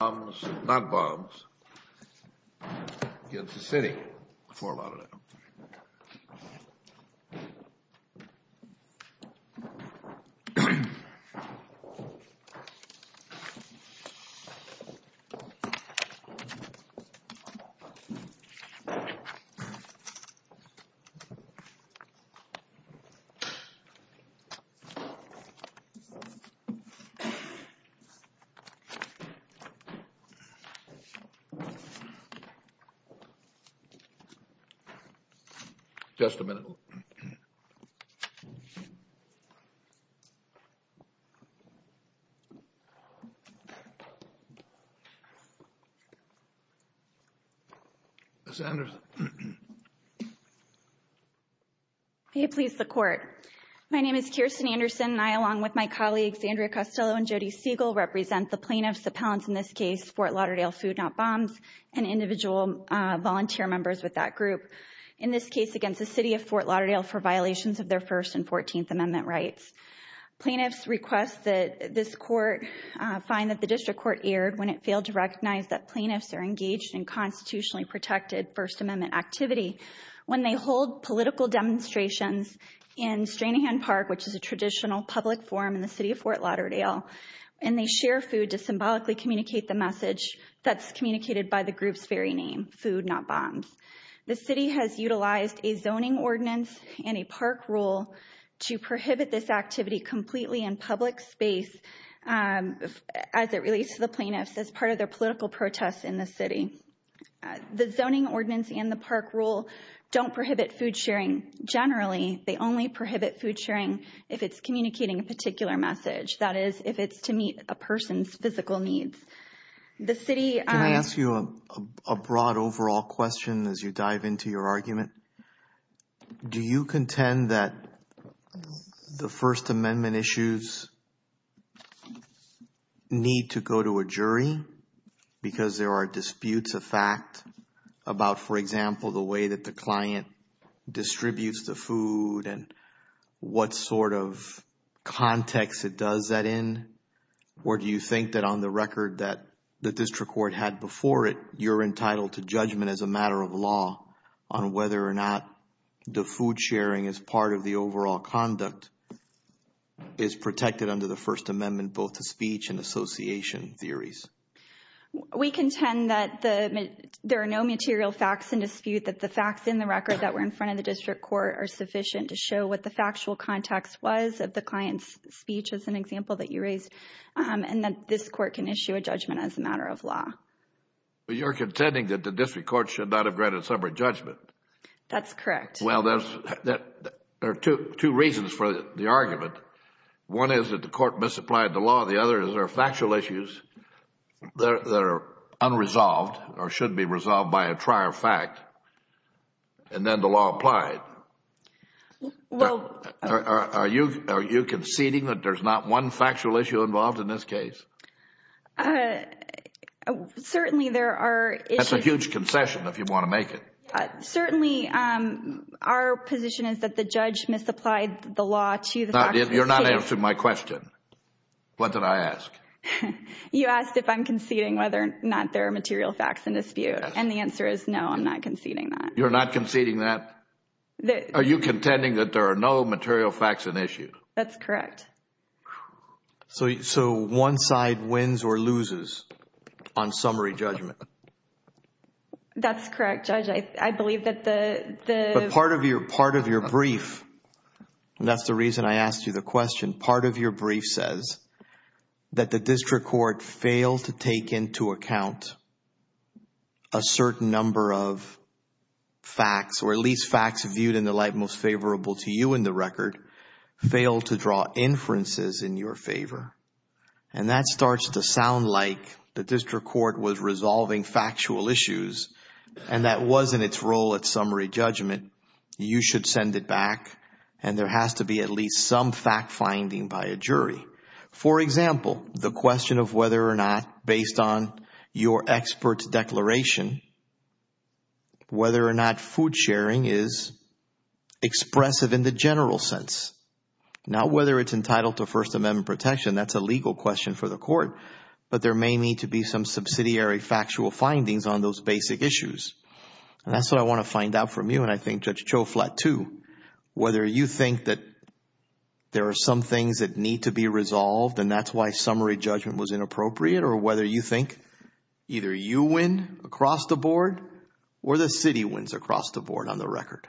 Bombs, not bombs, against the city for a lot of them. Just a minute. Please support. My name is Kirsten Anderson, and I, along with my colleagues, Andrea Costello and Jodi Siegel represent the plaintiffs appellants in this case, Fort Lauderdale Food, Not Bombs, and individual volunteer members with that group. In this case against the city of Fort Lauderdale for violations of their First and Fourteenth Amendment rights. Plaintiffs request that this court find that the district court erred when it failed to recognize that plaintiffs are engaged in constitutionally protected First Amendment activity. When they hold political demonstrations in Stranahan Park, which is a traditional public forum in the city of Fort Lauderdale, and they share food to symbolically communicate the message that's communicated by the group's very name, Food, Not Bombs. The city has utilized a zoning ordinance and a park rule to prohibit this activity completely in public space as it relates to the plaintiffs as part of their political protests in the city. The zoning ordinance and the park rule don't prohibit food sharing generally, they only that is if it's to meet a person's physical needs. The city... Can I ask you a broad overall question as you dive into your argument? Do you contend that the First Amendment issues need to go to a jury because there are disputes of fact about, for example, the way that the client distributes the food and what sort of context it does that in? Or do you think that on the record that the district court had before it, you're entitled to judgment as a matter of law on whether or not the food sharing is part of the overall conduct is protected under the First Amendment, both the speech and association theories? We contend that there are no material facts in dispute, that the facts in the record that were in front of the district court are sufficient to show what the factual context was of the client's speech as an example that you raised and that this court can issue a judgment as a matter of law. But you're contending that the district court should not have granted separate judgment? That's correct. Well, there are two reasons for the argument. One is that the court misapplied the law. The other is there are factual issues that are unresolved or should be resolved by a law applied. Are you conceding that there's not one factual issue involved in this case? Certainly there are issues. That's a huge concession if you want to make it. Certainly our position is that the judge misapplied the law to the facts in dispute. You're not answering my question. What did I ask? You asked if I'm conceding whether or not there are material facts in dispute and the answer is no, I'm not conceding that. You're not conceding that? Are you contending that there are no material facts in issue? That's correct. So one side wins or loses on summary judgment? That's correct, Judge. I believe that the... Part of your brief, and that's the reason I asked you the question, part of your brief says that the district court failed to take into account a certain number of facts or at least facts viewed in the light most favorable to you in the record, failed to draw inferences in your favor. That starts to sound like the district court was resolving factual issues and that wasn't its role at summary judgment. You should send it back and there has to be at least some fact finding by a jury. For example, the question of whether or not, based on your expert's declaration, whether or not food sharing is expressive in the general sense, not whether it's entitled to First Amendment protection. That's a legal question for the court. But there may need to be some subsidiary factual findings on those basic issues. That's what I want to find out from you and I think, Judge Chouflat, too, whether you think that there are some things that need to be resolved and that's why summary judgment was inappropriate or whether you think either you win across the board or the city wins across the board on the record.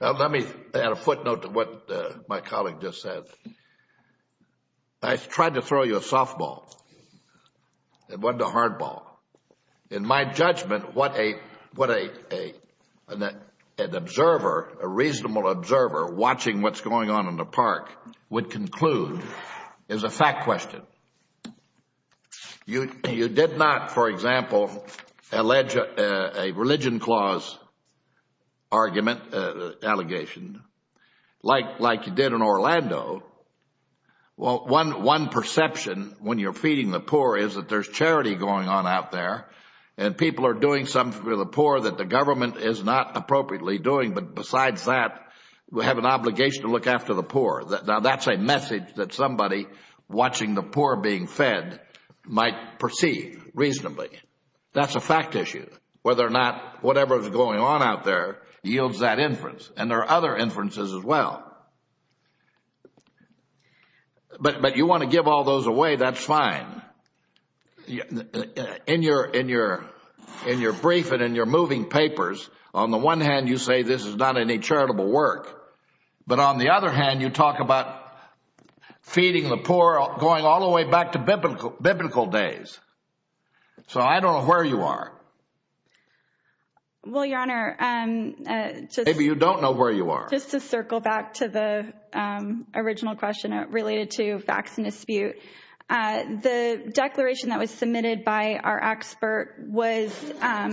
Let me add a footnote to what my colleague just said. I tried to throw you a softball, it wasn't a hardball. In my judgment, what an observer, a reasonable observer watching what's going on in the park would conclude is a fact question. You did not, for example, allege a religion clause argument, allegation, like you did in Orlando. Well, one perception when you're feeding the poor is that there's charity going on out there and people are doing something for the poor that the government is not appropriately doing. But besides that, we have an obligation to look after the poor. Now, that's a message that somebody watching the poor being fed might perceive reasonably. That's a fact issue, whether or not whatever is going on out there yields that inference. And there are other inferences as well. But you want to give all those away, that's fine. In your brief and in your moving papers, on the one hand, you say this is not any charitable work. But on the other hand, you talk about feeding the poor, going all the way back to biblical days. So I don't know where you are. Well, Your Honor, just to circle back to the original question related to facts in dispute, the declaration that was submitted by our expert was...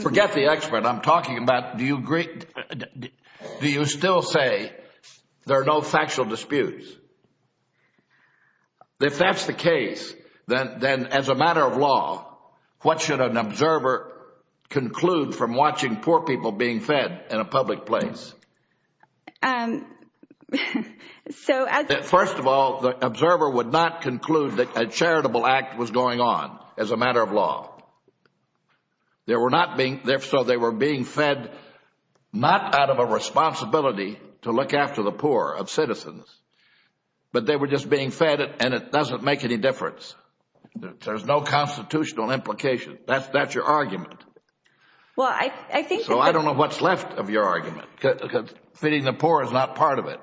Forget the expert. I'm talking about, do you still say there are no factual disputes? If that's the case, then as a matter of law, what should an observer conclude from watching poor people being fed in a public place? First of all, the observer would not conclude that a charitable act was going on as a matter of law. There were not being there, so they were being fed not out of a responsibility to look after the poor, of citizens, but they were just being fed and it doesn't make any difference. There's no constitutional implication. That's your argument. Well, I think... So I don't know what's left of your argument, because feeding the poor is not part of it.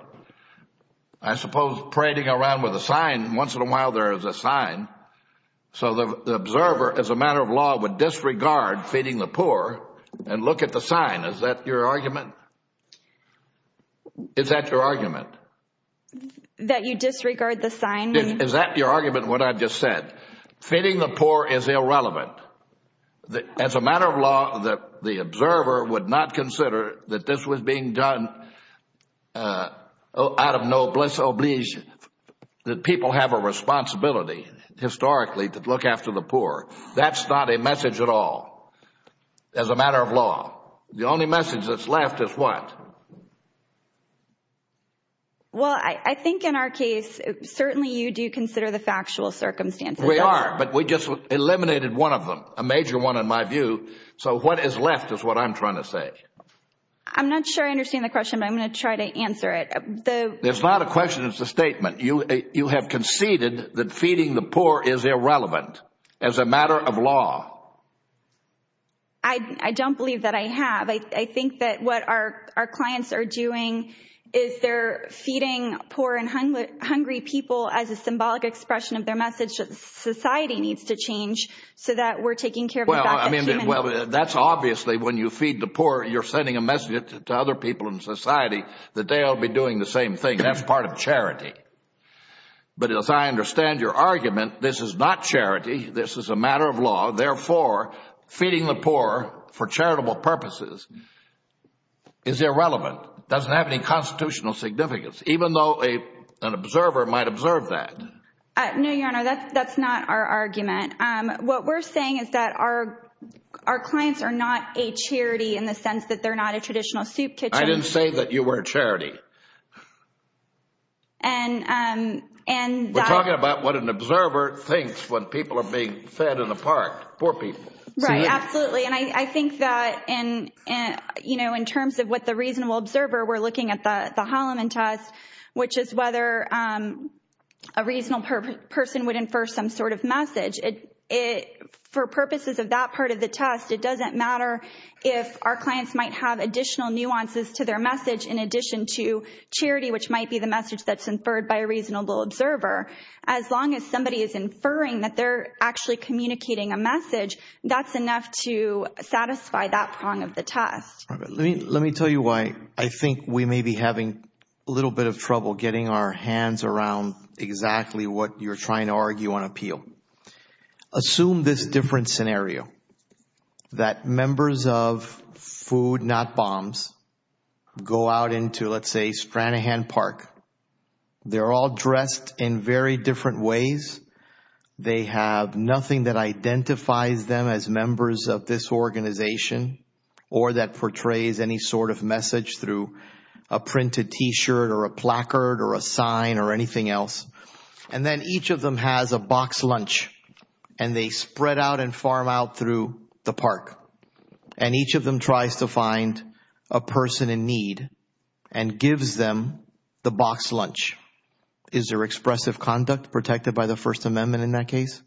I suppose parading around with a sign, once in a while there is a sign. So the observer, as a matter of law, would disregard feeding the poor and look at the sign. Is that your argument? That you disregard the sign? Is that your argument, what I just said? Feeding the poor is irrelevant. As a matter of law, the observer would not consider that this was being done out of no bliss oblige, that people have a responsibility, historically, to look after the poor. That's not a message at all, as a matter of law. The only message that's left is what? Well, I think in our case, certainly you do consider the factual circumstances. We are, but we just eliminated one of them, a major one in my view. So what is left is what I'm trying to say. I'm not sure I understand the question, but I'm going to try to answer it. It's not a question, it's a statement. You have conceded that feeding the poor is irrelevant, as a matter of law. I don't believe that I have. I think that what our clients are doing is they're feeding poor and hungry people as a symbolic expression of their message that society needs to change so that we're taking care of the back of humanity. Well, I mean, that's obviously when you feed the poor, you're sending a message to other people in society that they'll be doing the same thing. That's part of charity. But as I understand your argument, this is not charity. This is a matter of law. Therefore, feeding the poor for charitable purposes is irrelevant. It doesn't have any constitutional significance, even though an observer might observe that. No, Your Honor, that's not our argument. What we're saying is that our clients are not a charity in the sense that they're not a traditional soup kitchen. I didn't say that you were a charity. We're talking about what an observer thinks when people are being fed in the park, poor people. Right, absolutely. And I think that in terms of what the reasonable observer, we're looking at the Holloman test, which is whether a reasonable person would infer some sort of message. For purposes of that part of the test, it doesn't matter if our clients might have additional nuances to their message in addition to charity, which might be the message that's inferred by a reasonable observer. As long as somebody is inferring that they're actually communicating a message, that's enough to satisfy that prong of the test. Let me tell you why I think we may be having a little bit of trouble getting our hands around exactly what you're trying to argue on appeal. Assume this different scenario, that members of Food Not Bombs go out into, let's say, Stranahan Park. They're all dressed in very different ways. They have nothing that identifies them as members of this organization or that portrays any sort of message through a printed t-shirt or a placard or a sign or anything else. And then each of them has a boxed lunch, and they spread out and farm out through the park. And each of them tries to find a person in need and gives them the boxed lunch. Is there expressive conduct protected by the First Amendment in that case?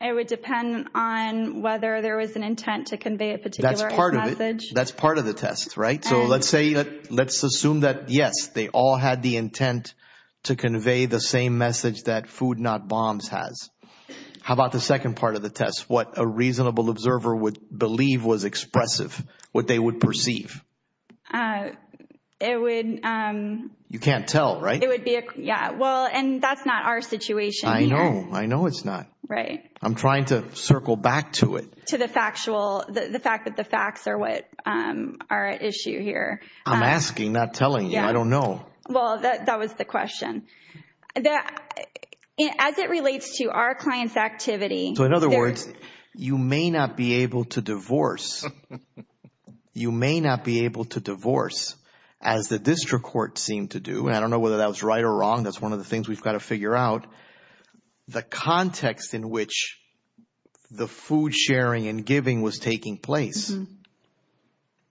It would depend on whether there was an intent to convey a particular message. That's part of the test, right? So let's assume that, yes, they all had the intent to convey the same message that Food Not Bombs has. How about the second part of the test, what a reasonable observer would believe was expressive, what they would perceive? It would... You can't tell, right? It would be... Yeah. Well, and that's not our situation here. I know. I know it's not. Right. I'm trying to circle back to it. To the factual... The fact that the facts are what are at issue here. I'm asking, not telling you. I don't know. Well, that was the question. As it relates to our client's activity... So in other words, you may not be able to divorce. You may not be able to divorce as the district court seemed to do, and I don't know whether that was right or wrong. That's one of the things we've got to figure out. The context in which the food sharing and giving was taking place,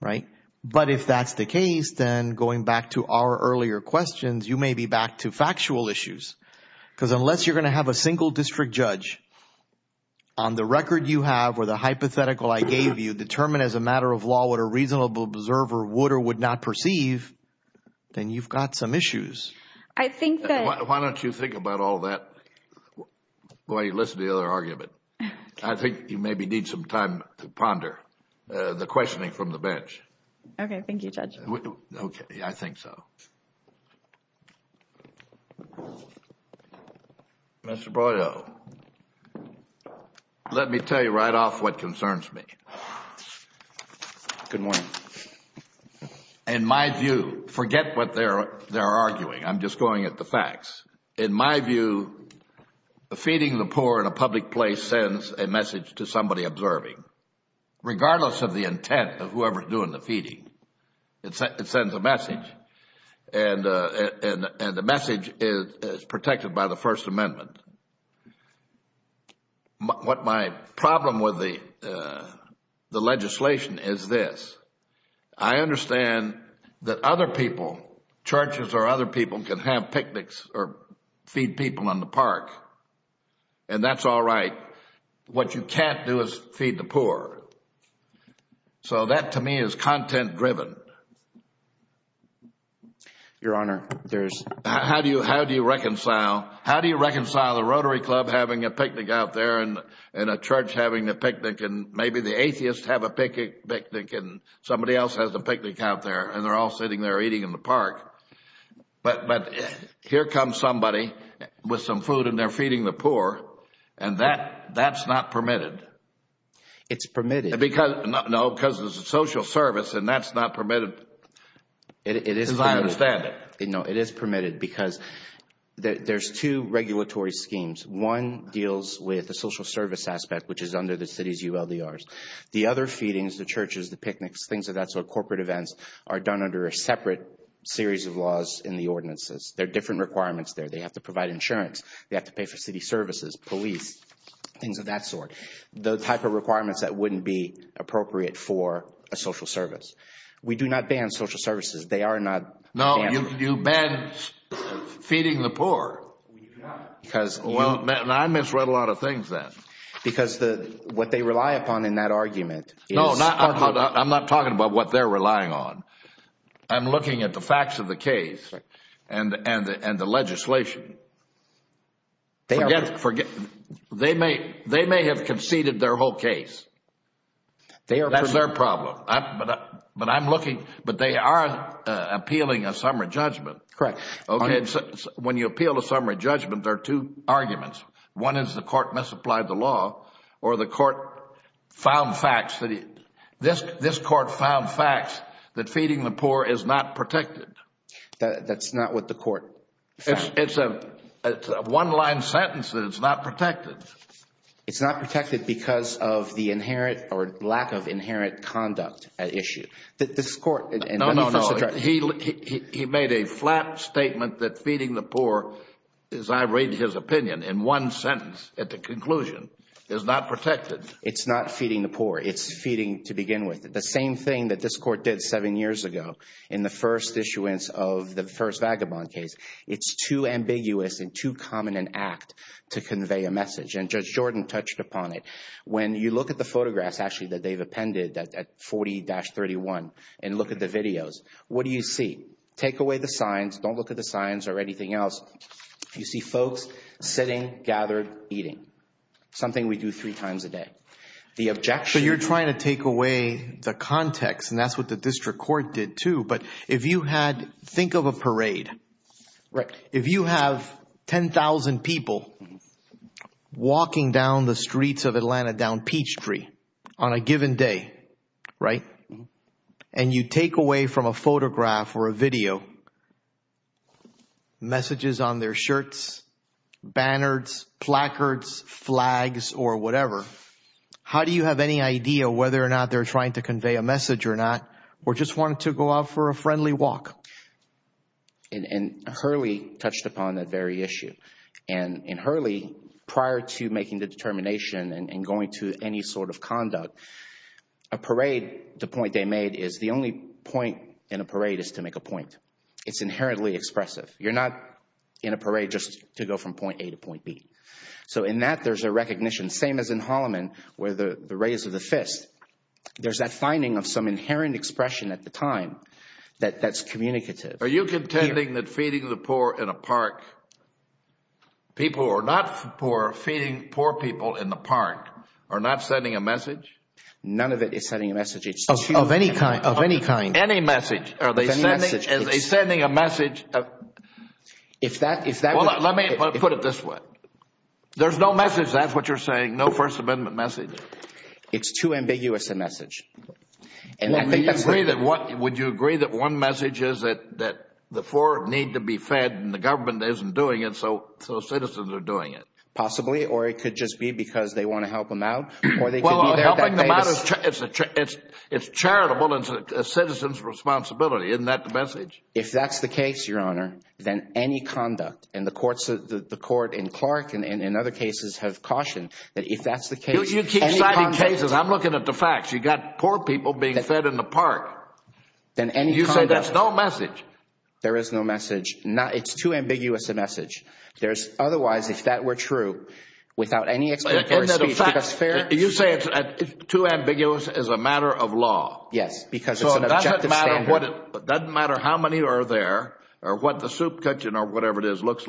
right? But if that's the case, then going back to our earlier questions, you may be back to factual issues because unless you're going to have a single district judge on the record you have or the hypothetical I gave you determined as a matter of law what a reasonable observer would or would not perceive, then you've got some issues. I think that... If you think about all that while you listen to the other argument, I think you maybe need some time to ponder the questioning from the bench. Okay. Thank you, Judge. Okay. I think so. Mr. Broido, let me tell you right off what concerns me. Good morning. In my view, forget what they're arguing. I'm just going at the facts. In my view, feeding the poor in a public place sends a message to somebody observing, regardless of the intent of whoever is doing the feeding. It sends a message and the message is protected by the First Amendment. What my problem with the legislation is this, I understand that other people, churches or other people can have picnics or feed people in the park and that's all right. What you can't do is feed the poor. So that to me is content driven. Your Honor, there's... How do you reconcile the Rotary Club having a picnic out there and a church having a picnic and maybe the atheists have a picnic and somebody else has a picnic out there and they're all sitting there eating in the park, but here comes somebody with some food and they're feeding the poor and that's not permitted. It's permitted. No, because it's a social service and that's not permitted as I understand it. It is permitted because there's two regulatory schemes. One deals with the social service aspect, which is under the city's ULDRs. The other feedings, the churches, the picnics, things of that sort, corporate events are done under a separate series of laws in the ordinances. There are different requirements there. They have to provide insurance. They have to pay for city services, police, things of that sort, the type of requirements that wouldn't be appropriate for a social service. We do not ban social services. They are not... No, you ban feeding the poor. Because you... Well, I misread a lot of things then. Because what they rely upon in that argument is... I'm not talking about what they're relying on. I'm looking at the facts of the case and the legislation. They may have conceded their whole case. That's their problem. But they are appealing a summary judgment. When you appeal a summary judgment, there are two arguments. One is the court misapplied the law or the court found facts that... This court found facts that feeding the poor is not protected. That's not what the court found. It's a one-line sentence that it's not protected. It's not protected because of the inherent or lack of inherent conduct at issue. This court... No, no, no. He made a flat statement that feeding the poor, as I read his opinion in one sentence at the conclusion, is not protected. It's not feeding the poor. It's feeding, to begin with, the same thing that this court did seven years ago in the first issuance of the first vagabond case. It's too ambiguous and too common an act to convey a message. And Judge Jordan touched upon it. When you look at the photographs, actually, that they've appended at 40-31 and look at the videos, what do you see? Take away the signs. Don't look at the signs or anything else. You see folks sitting, gathered, eating, something we do three times a day. The objection... So you're trying to take away the context, and that's what the district court did, too. But if you had... Think of a parade. If you have 10,000 people walking down the streets of Atlanta down Peachtree on a given day, right, and you take away from a photograph or a video messages on their shirts, banners, placards, flags, or whatever, how do you have any idea whether or not they're trying to convey a message or not, or just wanted to go out for a friendly walk? And Hurley touched upon that very issue. And in Hurley, prior to making the determination and going to any sort of conduct, a parade, the point they made is the only point in a parade is to make a point. It's inherently expressive. You're not in a parade just to go from point A to point B. So in that, there's a recognition, same as in Holloman, where the raise of the fist, there's that finding of some inherent expression at the time that's communicative. Are you contending that feeding the poor in a park, people who are not poor feeding poor people in the park are not sending a message? None of it is sending a message. It's too... Of any kind. Of any kind. Any message. Any message. Are they sending a message? If that... Well, let me put it this way. That's what you're saying. No First Amendment message. It's too ambiguous a message. Would you agree that one message is that the poor need to be fed and the government isn't doing it, so citizens are doing it? Possibly, or it could just be because they want to help them out, or they could be there that day... Well, helping them out, it's charitable and it's a citizen's responsibility. Isn't that the message? If that's the case, Your Honor, then any conduct, and the court in Clark and in other cases have cautioned that if that's the case... You keep citing cases. I'm looking at the facts. You've got poor people being fed in the park. Then any conduct... You say that's no message. There is no message. It's too ambiguous a message. There's otherwise, if that were true, without any explicit receipt, because fair... You say it's too ambiguous as a matter of law. Yes, because it's an objective standard. So it doesn't matter how many are there, or what the soup kitchen or whatever it is looks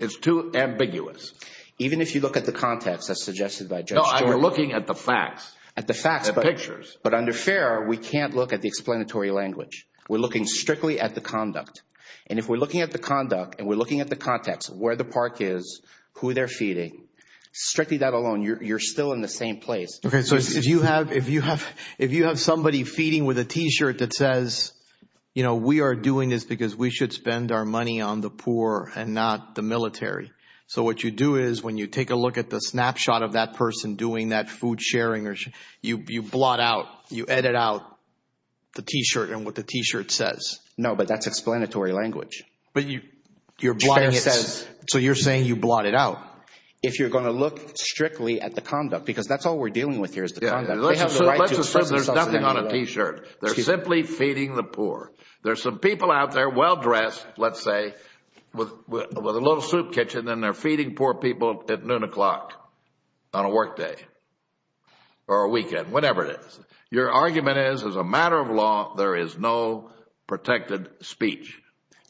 It's too ambiguous. Even if you look at the context as suggested by Judge Jordan... No, I'm looking at the facts. At the facts. The pictures. But under fair, we can't look at the explanatory language. We're looking strictly at the conduct. And if we're looking at the conduct, and we're looking at the context, where the park is, who they're feeding, strictly that alone, you're still in the same place. Okay. So if you have somebody feeding with a t-shirt that says, you know, we are doing this because we should spend our money on the poor and not the military. So what you do is, when you take a look at the snapshot of that person doing that food sharing, you blot out, you edit out the t-shirt and what the t-shirt says. No, but that's explanatory language. But you're blotting it out. So you're saying you blot it out. If you're going to look strictly at the conduct, because that's all we're dealing with here is the conduct. Let's assume there's nothing on a t-shirt. They're simply feeding the poor. There's some people out there, well-dressed, let's say, with a little soup kitchen, and they're feeding poor people at noon o'clock on a workday or a weekend, whatever it is. Your argument is, as a matter of law, there is no protected speech.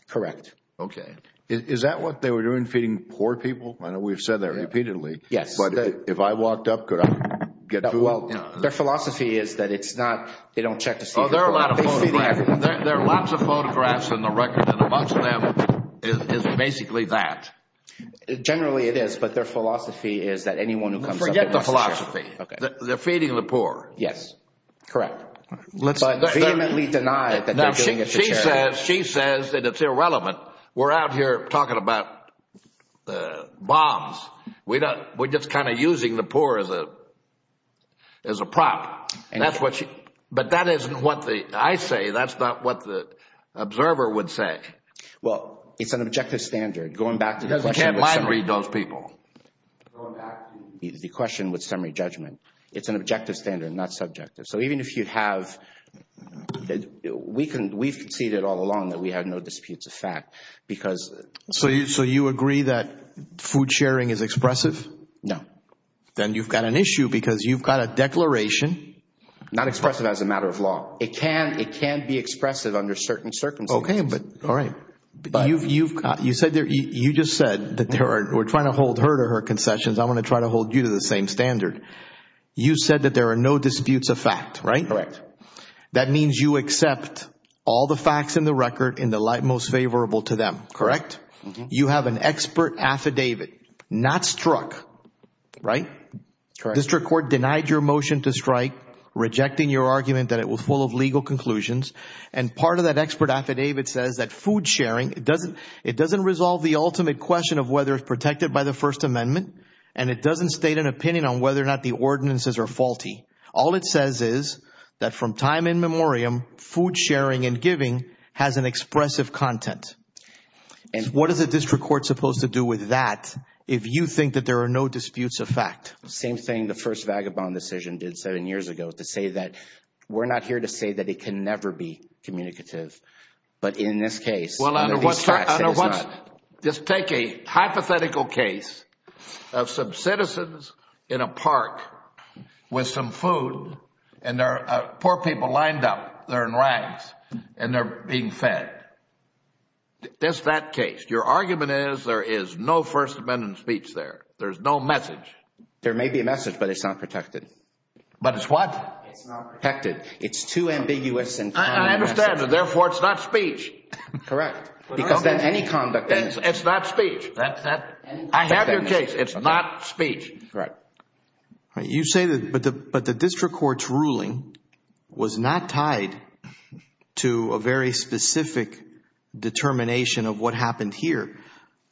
Correct. Okay. Is that what they were doing, feeding poor people? I know we've said that repeatedly. Yes. But if I walked up, could I get food? Their philosophy is that it's not, they don't check to see if they're feeding the poor. There are lots of photographs in the record, and amongst them is basically that. Generally it is, but their philosophy is that anyone who comes up with a t-shirt. Forget the philosophy. Okay. They're feeding the poor. Yes. Correct. But vehemently denied that they're doing it for charity. She says that it's irrelevant. We're out here talking about bombs. We're just kind of using the poor as a prop. But that isn't what I say. That's not what the observer would say. Well, it's an objective standard. Going back to the question with summary judgment. It's an objective standard, not subjective. So even if you have, we've conceded all along that we have no disputes of fact. So you agree that food sharing is expressive? No. Then you've got an issue because you've got a declaration. Not expressive as a matter of law. It can be expressive under certain circumstances. Okay. All right. But you just said that we're trying to hold her to her concessions. I want to try to hold you to the same standard. You said that there are no disputes of fact, right? Correct. That means you accept all the facts in the record in the light most favorable to them, correct? You have an expert affidavit, not struck, right? Correct. District court denied your motion to strike, rejecting your argument that it was full of legal conclusions. And part of that expert affidavit says that food sharing, it doesn't resolve the ultimate question of whether it's protected by the First Amendment, and it doesn't state an opinion on whether or not the ordinances are faulty. All it says is that from time in memoriam, food sharing and giving has an expressive content. And what is a district court supposed to do with that if you think that there are no disputes of fact? Same thing the first vagabond decision did seven years ago to say that we're not here to say that it can never be communicative. But in this case, under these facts, it is not. Well, under what... Just take a hypothetical case of some citizens in a park with some food, and there are poor people lined up, they're in rags, and they're being fed. That's that case. Your argument is there is no First Amendment speech there. There's no message. There may be a message, but it's not protected. But it's what? It's not protected. It's too ambiguous. I understand. Therefore, it's not speech. Correct. Because then any conduct... It's not speech. I have your case. It's not speech. Correct. You say that... But the district court's ruling was not tied to a very specific determination of what happened here.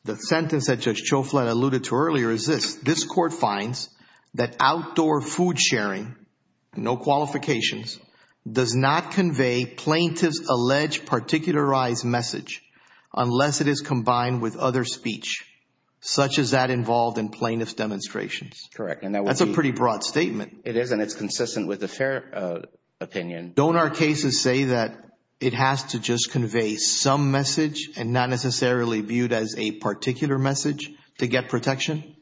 The sentence that Judge Chauflin alluded to earlier is this. This court finds that outdoor food sharing, no qualifications, does not convey plaintiff's alleged particularized message unless it is combined with other speech, such as that involved in plaintiff's demonstrations. Correct. That's a pretty broad statement. It is, and it's consistent with the fair opinion. Don't our cases say that it has to just convey some message and not necessarily viewed as a particular message to get protection?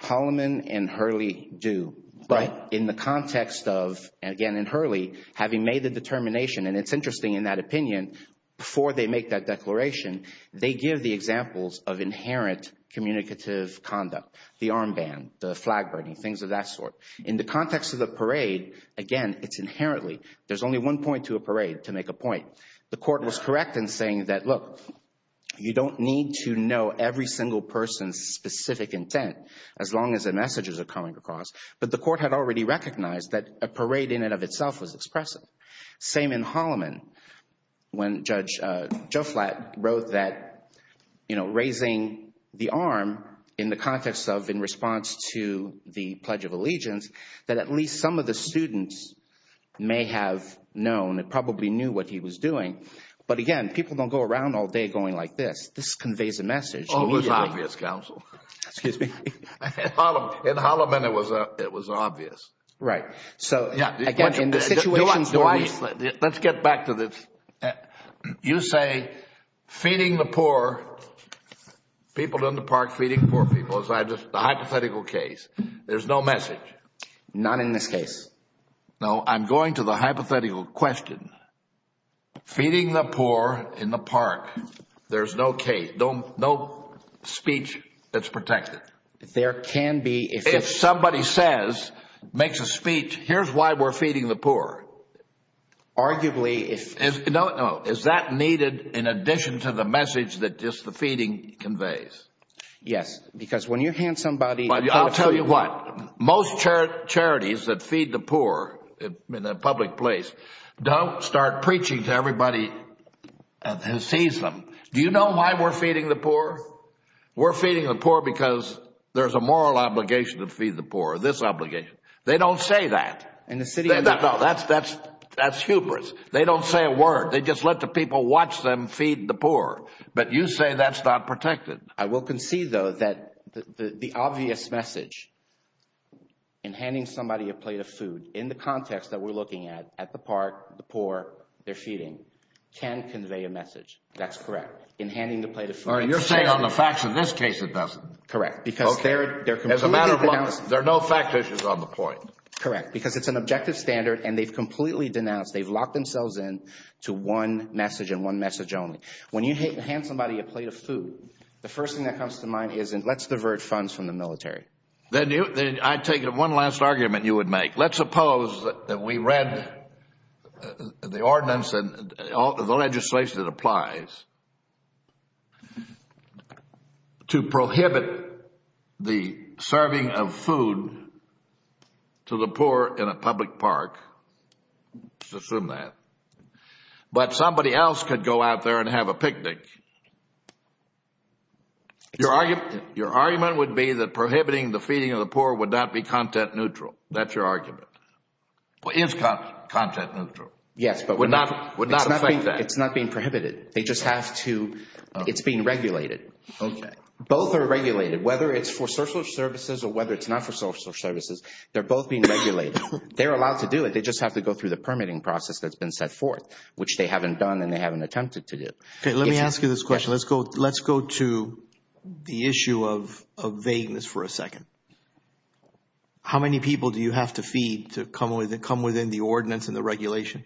Holloman and Hurley do. Right. But in the context of, again, in Hurley, having made the determination, and it's interesting in that opinion, before they make that declaration, they give the examples of inherent communicative conduct, the armband, the flag burning, things of that sort. In the context of the parade, again, it's inherently, there's only one point to a parade to make a point. The court was correct in saying that, look, you don't need to know every single person's specific intent as long as the messages are coming across. But the court had already recognized that a parade in and of itself was expressive. Same in Holloman, when Judge Joe Flatt wrote that, you know, raising the arm in the context of, in response to the Pledge of Allegiance, that at least some of the students may have known, probably knew what he was doing, but again, people don't go around all day going like this. This conveys a message. Oh, it was obvious, counsel. Excuse me? In Holloman, it was obvious. Right. Let's get back to this. You say, feeding the poor, people in the park feeding poor people, the hypothetical case, there's no message. Not in this case. No, I'm going to the hypothetical question. Feeding the poor in the park, there's no speech that's protected. There can be. If somebody says, makes a speech, here's why we're feeding the poor. Arguably, if. No, no. Is that needed in addition to the message that just the feeding conveys? Yes, because when you hand somebody. I'll tell you what, most charities that feed the poor in a public place don't start preaching to everybody who sees them. Do you know why we're feeding the poor? We're feeding the poor because there's a moral obligation to feed the poor. This obligation. They don't say that. In the city. No, that's hubris. They don't say a word. They just let the people watch them feed the poor. But you say that's not protected. I will concede, though, that the obvious message in handing somebody a plate of food in the context that we're looking at, at the park, the poor, they're feeding, can convey a message. That's correct. In handing the plate of food. You're saying on the facts in this case, it doesn't. Correct. Because they're completely denouncing. As a matter of law, there are no fact issues on the point. Correct. Because it's an objective standard and they've completely denounced. They've locked themselves in to one message and one message only. When you hand somebody a plate of food, the first thing that comes to mind is, let's divert funds from the military. I take it one last argument you would make. Let's suppose that we read the ordinance and all the legislation that applies to prohibit the serving of food to the poor in a public park, let's assume that. But somebody else could go out there and have a picnic. Your argument would be that prohibiting the feeding of the poor would not be content neutral. That's your argument. Well, it's content neutral. Yes, but it's not being prohibited. It's being regulated. Both are regulated. Whether it's for social services or whether it's not for social services, they're both being regulated. They're allowed to do it. They just have to go through the permitting process that's been set forth, which they haven't done and they haven't attempted to do. Let me ask you this question. Let's go to the issue of vagueness for a second. How many people do you have to feed to come within the ordinance and the regulation?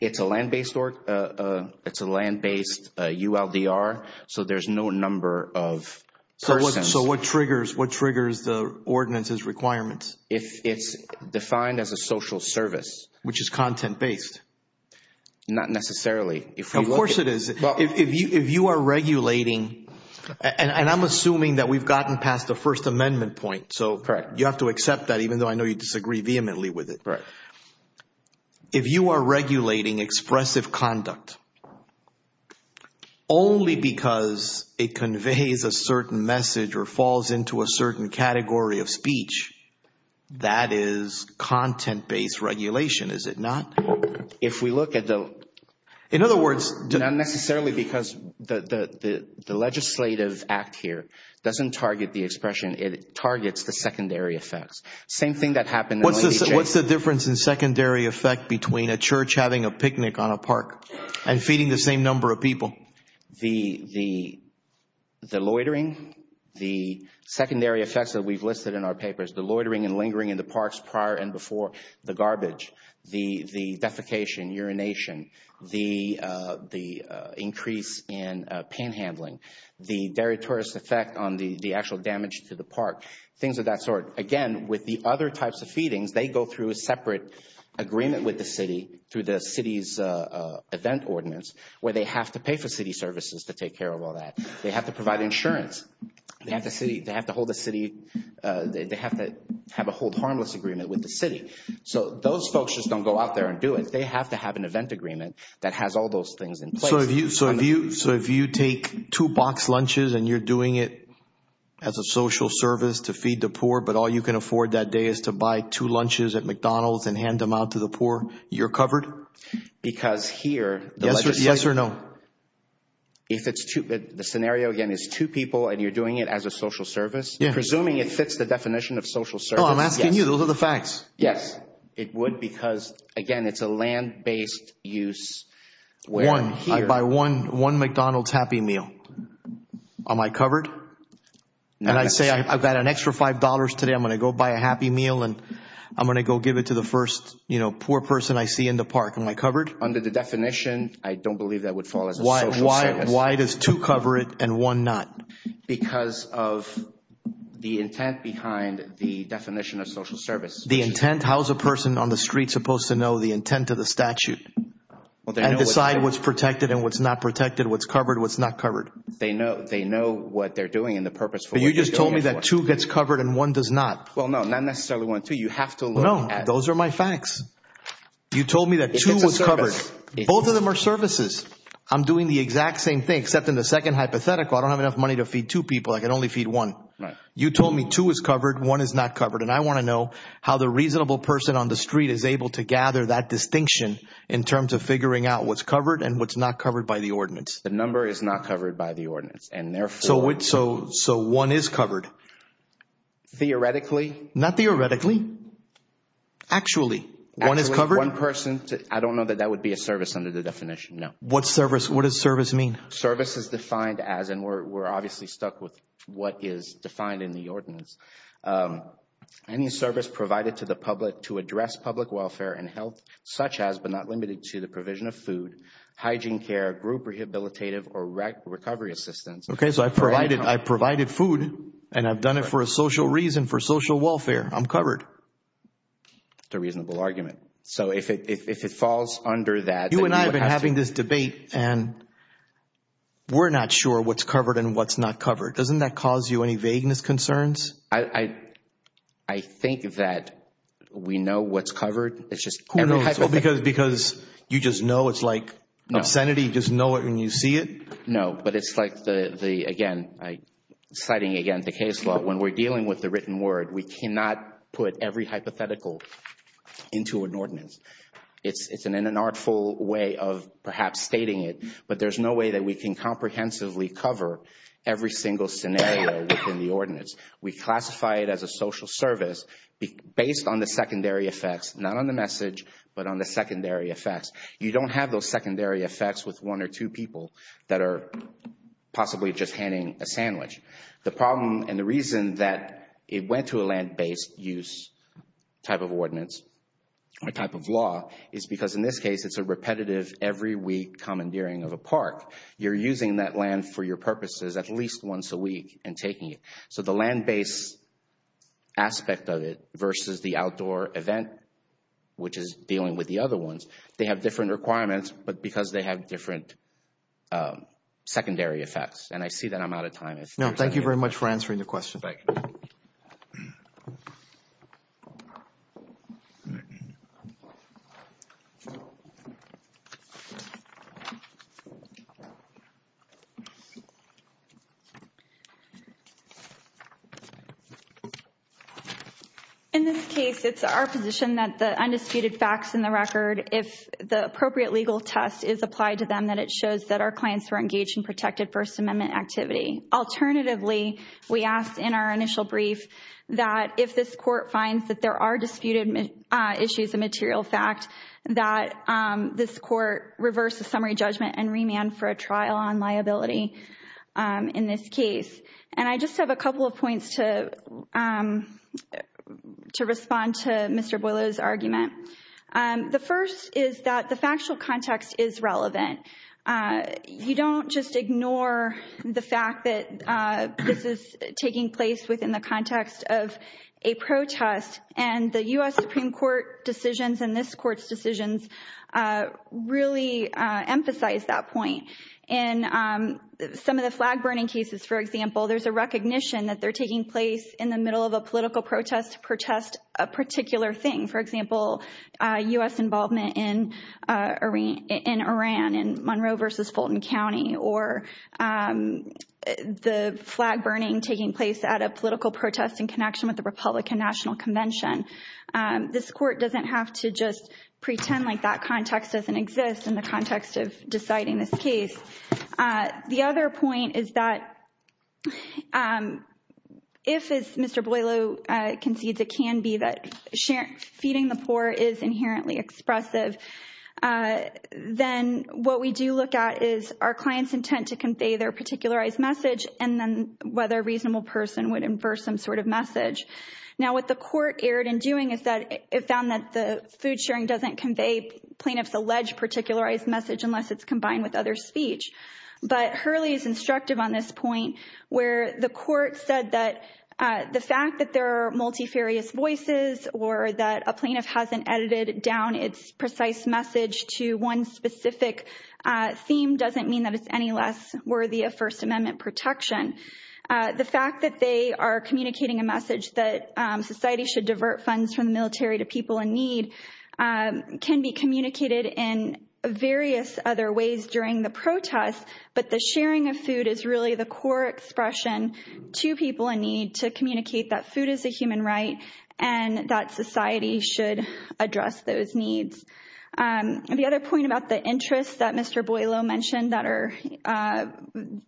It's a land-based ULDR, so there's no number of persons. So what triggers the ordinance's requirements? If it's defined as a social service. Which is content-based. Not necessarily. Of course it is. If you are regulating, and I'm assuming that we've gotten past the First Amendment point, so you have to accept that even though I know you disagree vehemently with it. If you are regulating expressive conduct only because it conveys a certain message or falls into a certain category of speech, that is content-based regulation, is it not? If we look at the... In other words... Not necessarily because the legislative act here doesn't target the expression, it targets the secondary effects. Same thing that happened... What's the difference in secondary effect between a church having a picnic on a park and feeding the same number of people? The loitering, the secondary effects that we've listed in our papers, the loitering and lingering in the parks prior and before, the garbage, the defecation, urination, the increase in pain handling, the deleterious effect on the actual damage to the park, things of that sort. Again, with the other types of feedings, they go through a separate agreement with the city through the city's event ordinance where they have to pay for city services to take care of all that. They have to provide insurance. They have to hold a city... They have to have a hold harmless agreement with the city. So those folks just don't go out there and do it. They have to have an event agreement that has all those things in place. So if you take two box lunches and you're doing it as a social service to feed the poor, but all you can afford that day is to buy two lunches at McDonald's and hand them out to the poor, you're covered? Because here... Yes or no? No. If it's two... The scenario again is two people and you're doing it as a social service, presuming it fits the definition of social service, yes. Oh, I'm asking you. Those are the facts. Yes. It would because, again, it's a land-based use where... One. I buy one McDonald's Happy Meal. Am I covered? No. And I say I've got an extra $5 today, I'm going to go buy a Happy Meal and I'm going to go give it to the first poor person I see in the park. Am I covered? Under the definition, I don't believe that would fall as a social service. Why does two cover it and one not? Because of the intent behind the definition of social service. The intent? How's a person on the street supposed to know the intent of the statute and decide what's protected and what's not protected, what's covered, what's not covered? They know what they're doing and the purpose for what they're doing it for. But you just told me that two gets covered and one does not. Well, no. Not necessarily one, two. You have to look at... No. Those are my facts. You told me that two was covered. It's a service. Both of them are services. I'm doing the exact same thing except in the second hypothetical, I don't have enough money to feed two people. I can only feed one. Right. You told me two is covered, one is not covered and I want to know how the reasonable person on the street is able to gather that distinction in terms of figuring out what's covered and what's not covered by the ordinance. The number is not covered by the ordinance and therefore... So one is covered? Theoretically? Not theoretically. Actually? Actually. One is covered? Actually, one person... I don't know that that would be a service under the definition, no. What service? What does service mean? Service is defined as, and we're obviously stuck with what is defined in the ordinance. Any service provided to the public to address public welfare and health such as, but not limited to, the provision of food, hygiene care, group rehabilitative or recovery assistance... Okay. So I provided food and I've done it for a social reason, for social welfare. I'm covered. That's a reasonable argument. So if it falls under that... You and I have been having this debate and we're not sure what's covered and what's not covered. Doesn't that cause you any vagueness concerns? I think that we know what's covered. It's just... Who knows? Because you just know it's like obscenity, you just know it when you see it? No, but it's like the, again, citing again the case law, when we're dealing with the case law, we do not put every hypothetical into an ordinance. It's an unartful way of perhaps stating it, but there's no way that we can comprehensively cover every single scenario within the ordinance. We classify it as a social service based on the secondary effects, not on the message, but on the secondary effects. You don't have those secondary effects with one or two people that are possibly just handing a sandwich. The problem and the reason that it went to a land-based use type of ordinance or type of law is because in this case, it's a repetitive every week commandeering of a park. You're using that land for your purposes at least once a week and taking it. So the land-based aspect of it versus the outdoor event, which is dealing with the other ones, they have different requirements, but because they have different secondary effects. And I see that I'm out of time. No. Thank you very much for answering the question. In this case, it's our position that the undisputed facts in the record, if the appropriate legal test is applied to them, that it shows that our clients were engaged in protected First Amendment activity. Alternatively, we asked in our initial brief that if this court finds that there are disputed issues of material fact, that this court reverse the summary judgment and remand for a trial on liability in this case. And I just have a couple of points to respond to Mr. Boileau's argument. The first is that the factual context is relevant. You don't just ignore the fact that this is taking place within the context of a protest and the U.S. Supreme Court decisions and this court's decisions really emphasize that point. In some of the flag-burning cases, for example, there's a recognition that they're taking place in the middle of a political protest to protest a particular thing. For example, U.S. involvement in Iran in Monroe versus Fulton County or the flag-burning taking place at a political protest in connection with the Republican National Convention. This court doesn't have to just pretend like that context doesn't exist in the context of deciding this case. The other point is that if, as Mr. Boileau concedes, it can be that feeding the poor is inherently expressive, then what we do look at is our client's intent to convey their particularized message and then whether a reasonable person would infer some sort of message. Now, what the court erred in doing is that it found that the food sharing doesn't convey plaintiff's alleged particularized message unless it's combined with other speech. But Hurley is instructive on this point where the court said that the fact that there are multifarious voices or that a plaintiff hasn't edited down its precise message to one specific theme doesn't mean that it's any less worthy of First Amendment protection. The fact that they are communicating a message that society should divert funds from the military to people in need can be communicated in various other ways during the protest. But the sharing of food is really the core expression to people in need to communicate that food is a human right and that society should address those needs. The other point about the interests that Mr. Boileau mentioned,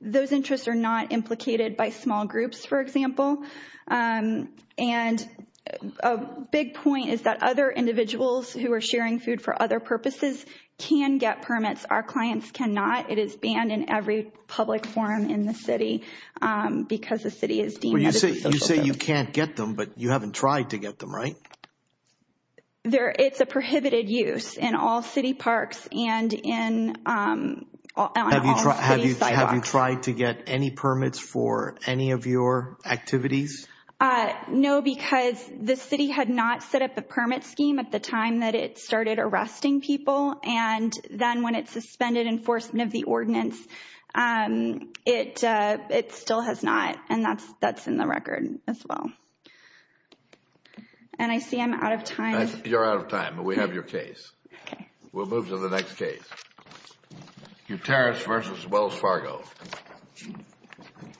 those interests are not implicated by small groups, for example. And a big point is that other individuals who are sharing food for other purposes can get permits. Our clients cannot. It is banned in every public forum in the city because the city is deemed— Well, you say you can't get them, but you haven't tried to get them, right? It's a prohibited use in all city parks and in all city sidewalks. Have you tried to get any permits for any of your activities? No, because the city had not set up a permit scheme at the time that it started arresting people. And then when it suspended enforcement of the ordinance, it still has not. And that's in the record as well. And I see I'm out of time. You're out of time, but we have your case. We'll move to the next case. Gutierrez v. Wells Fargo.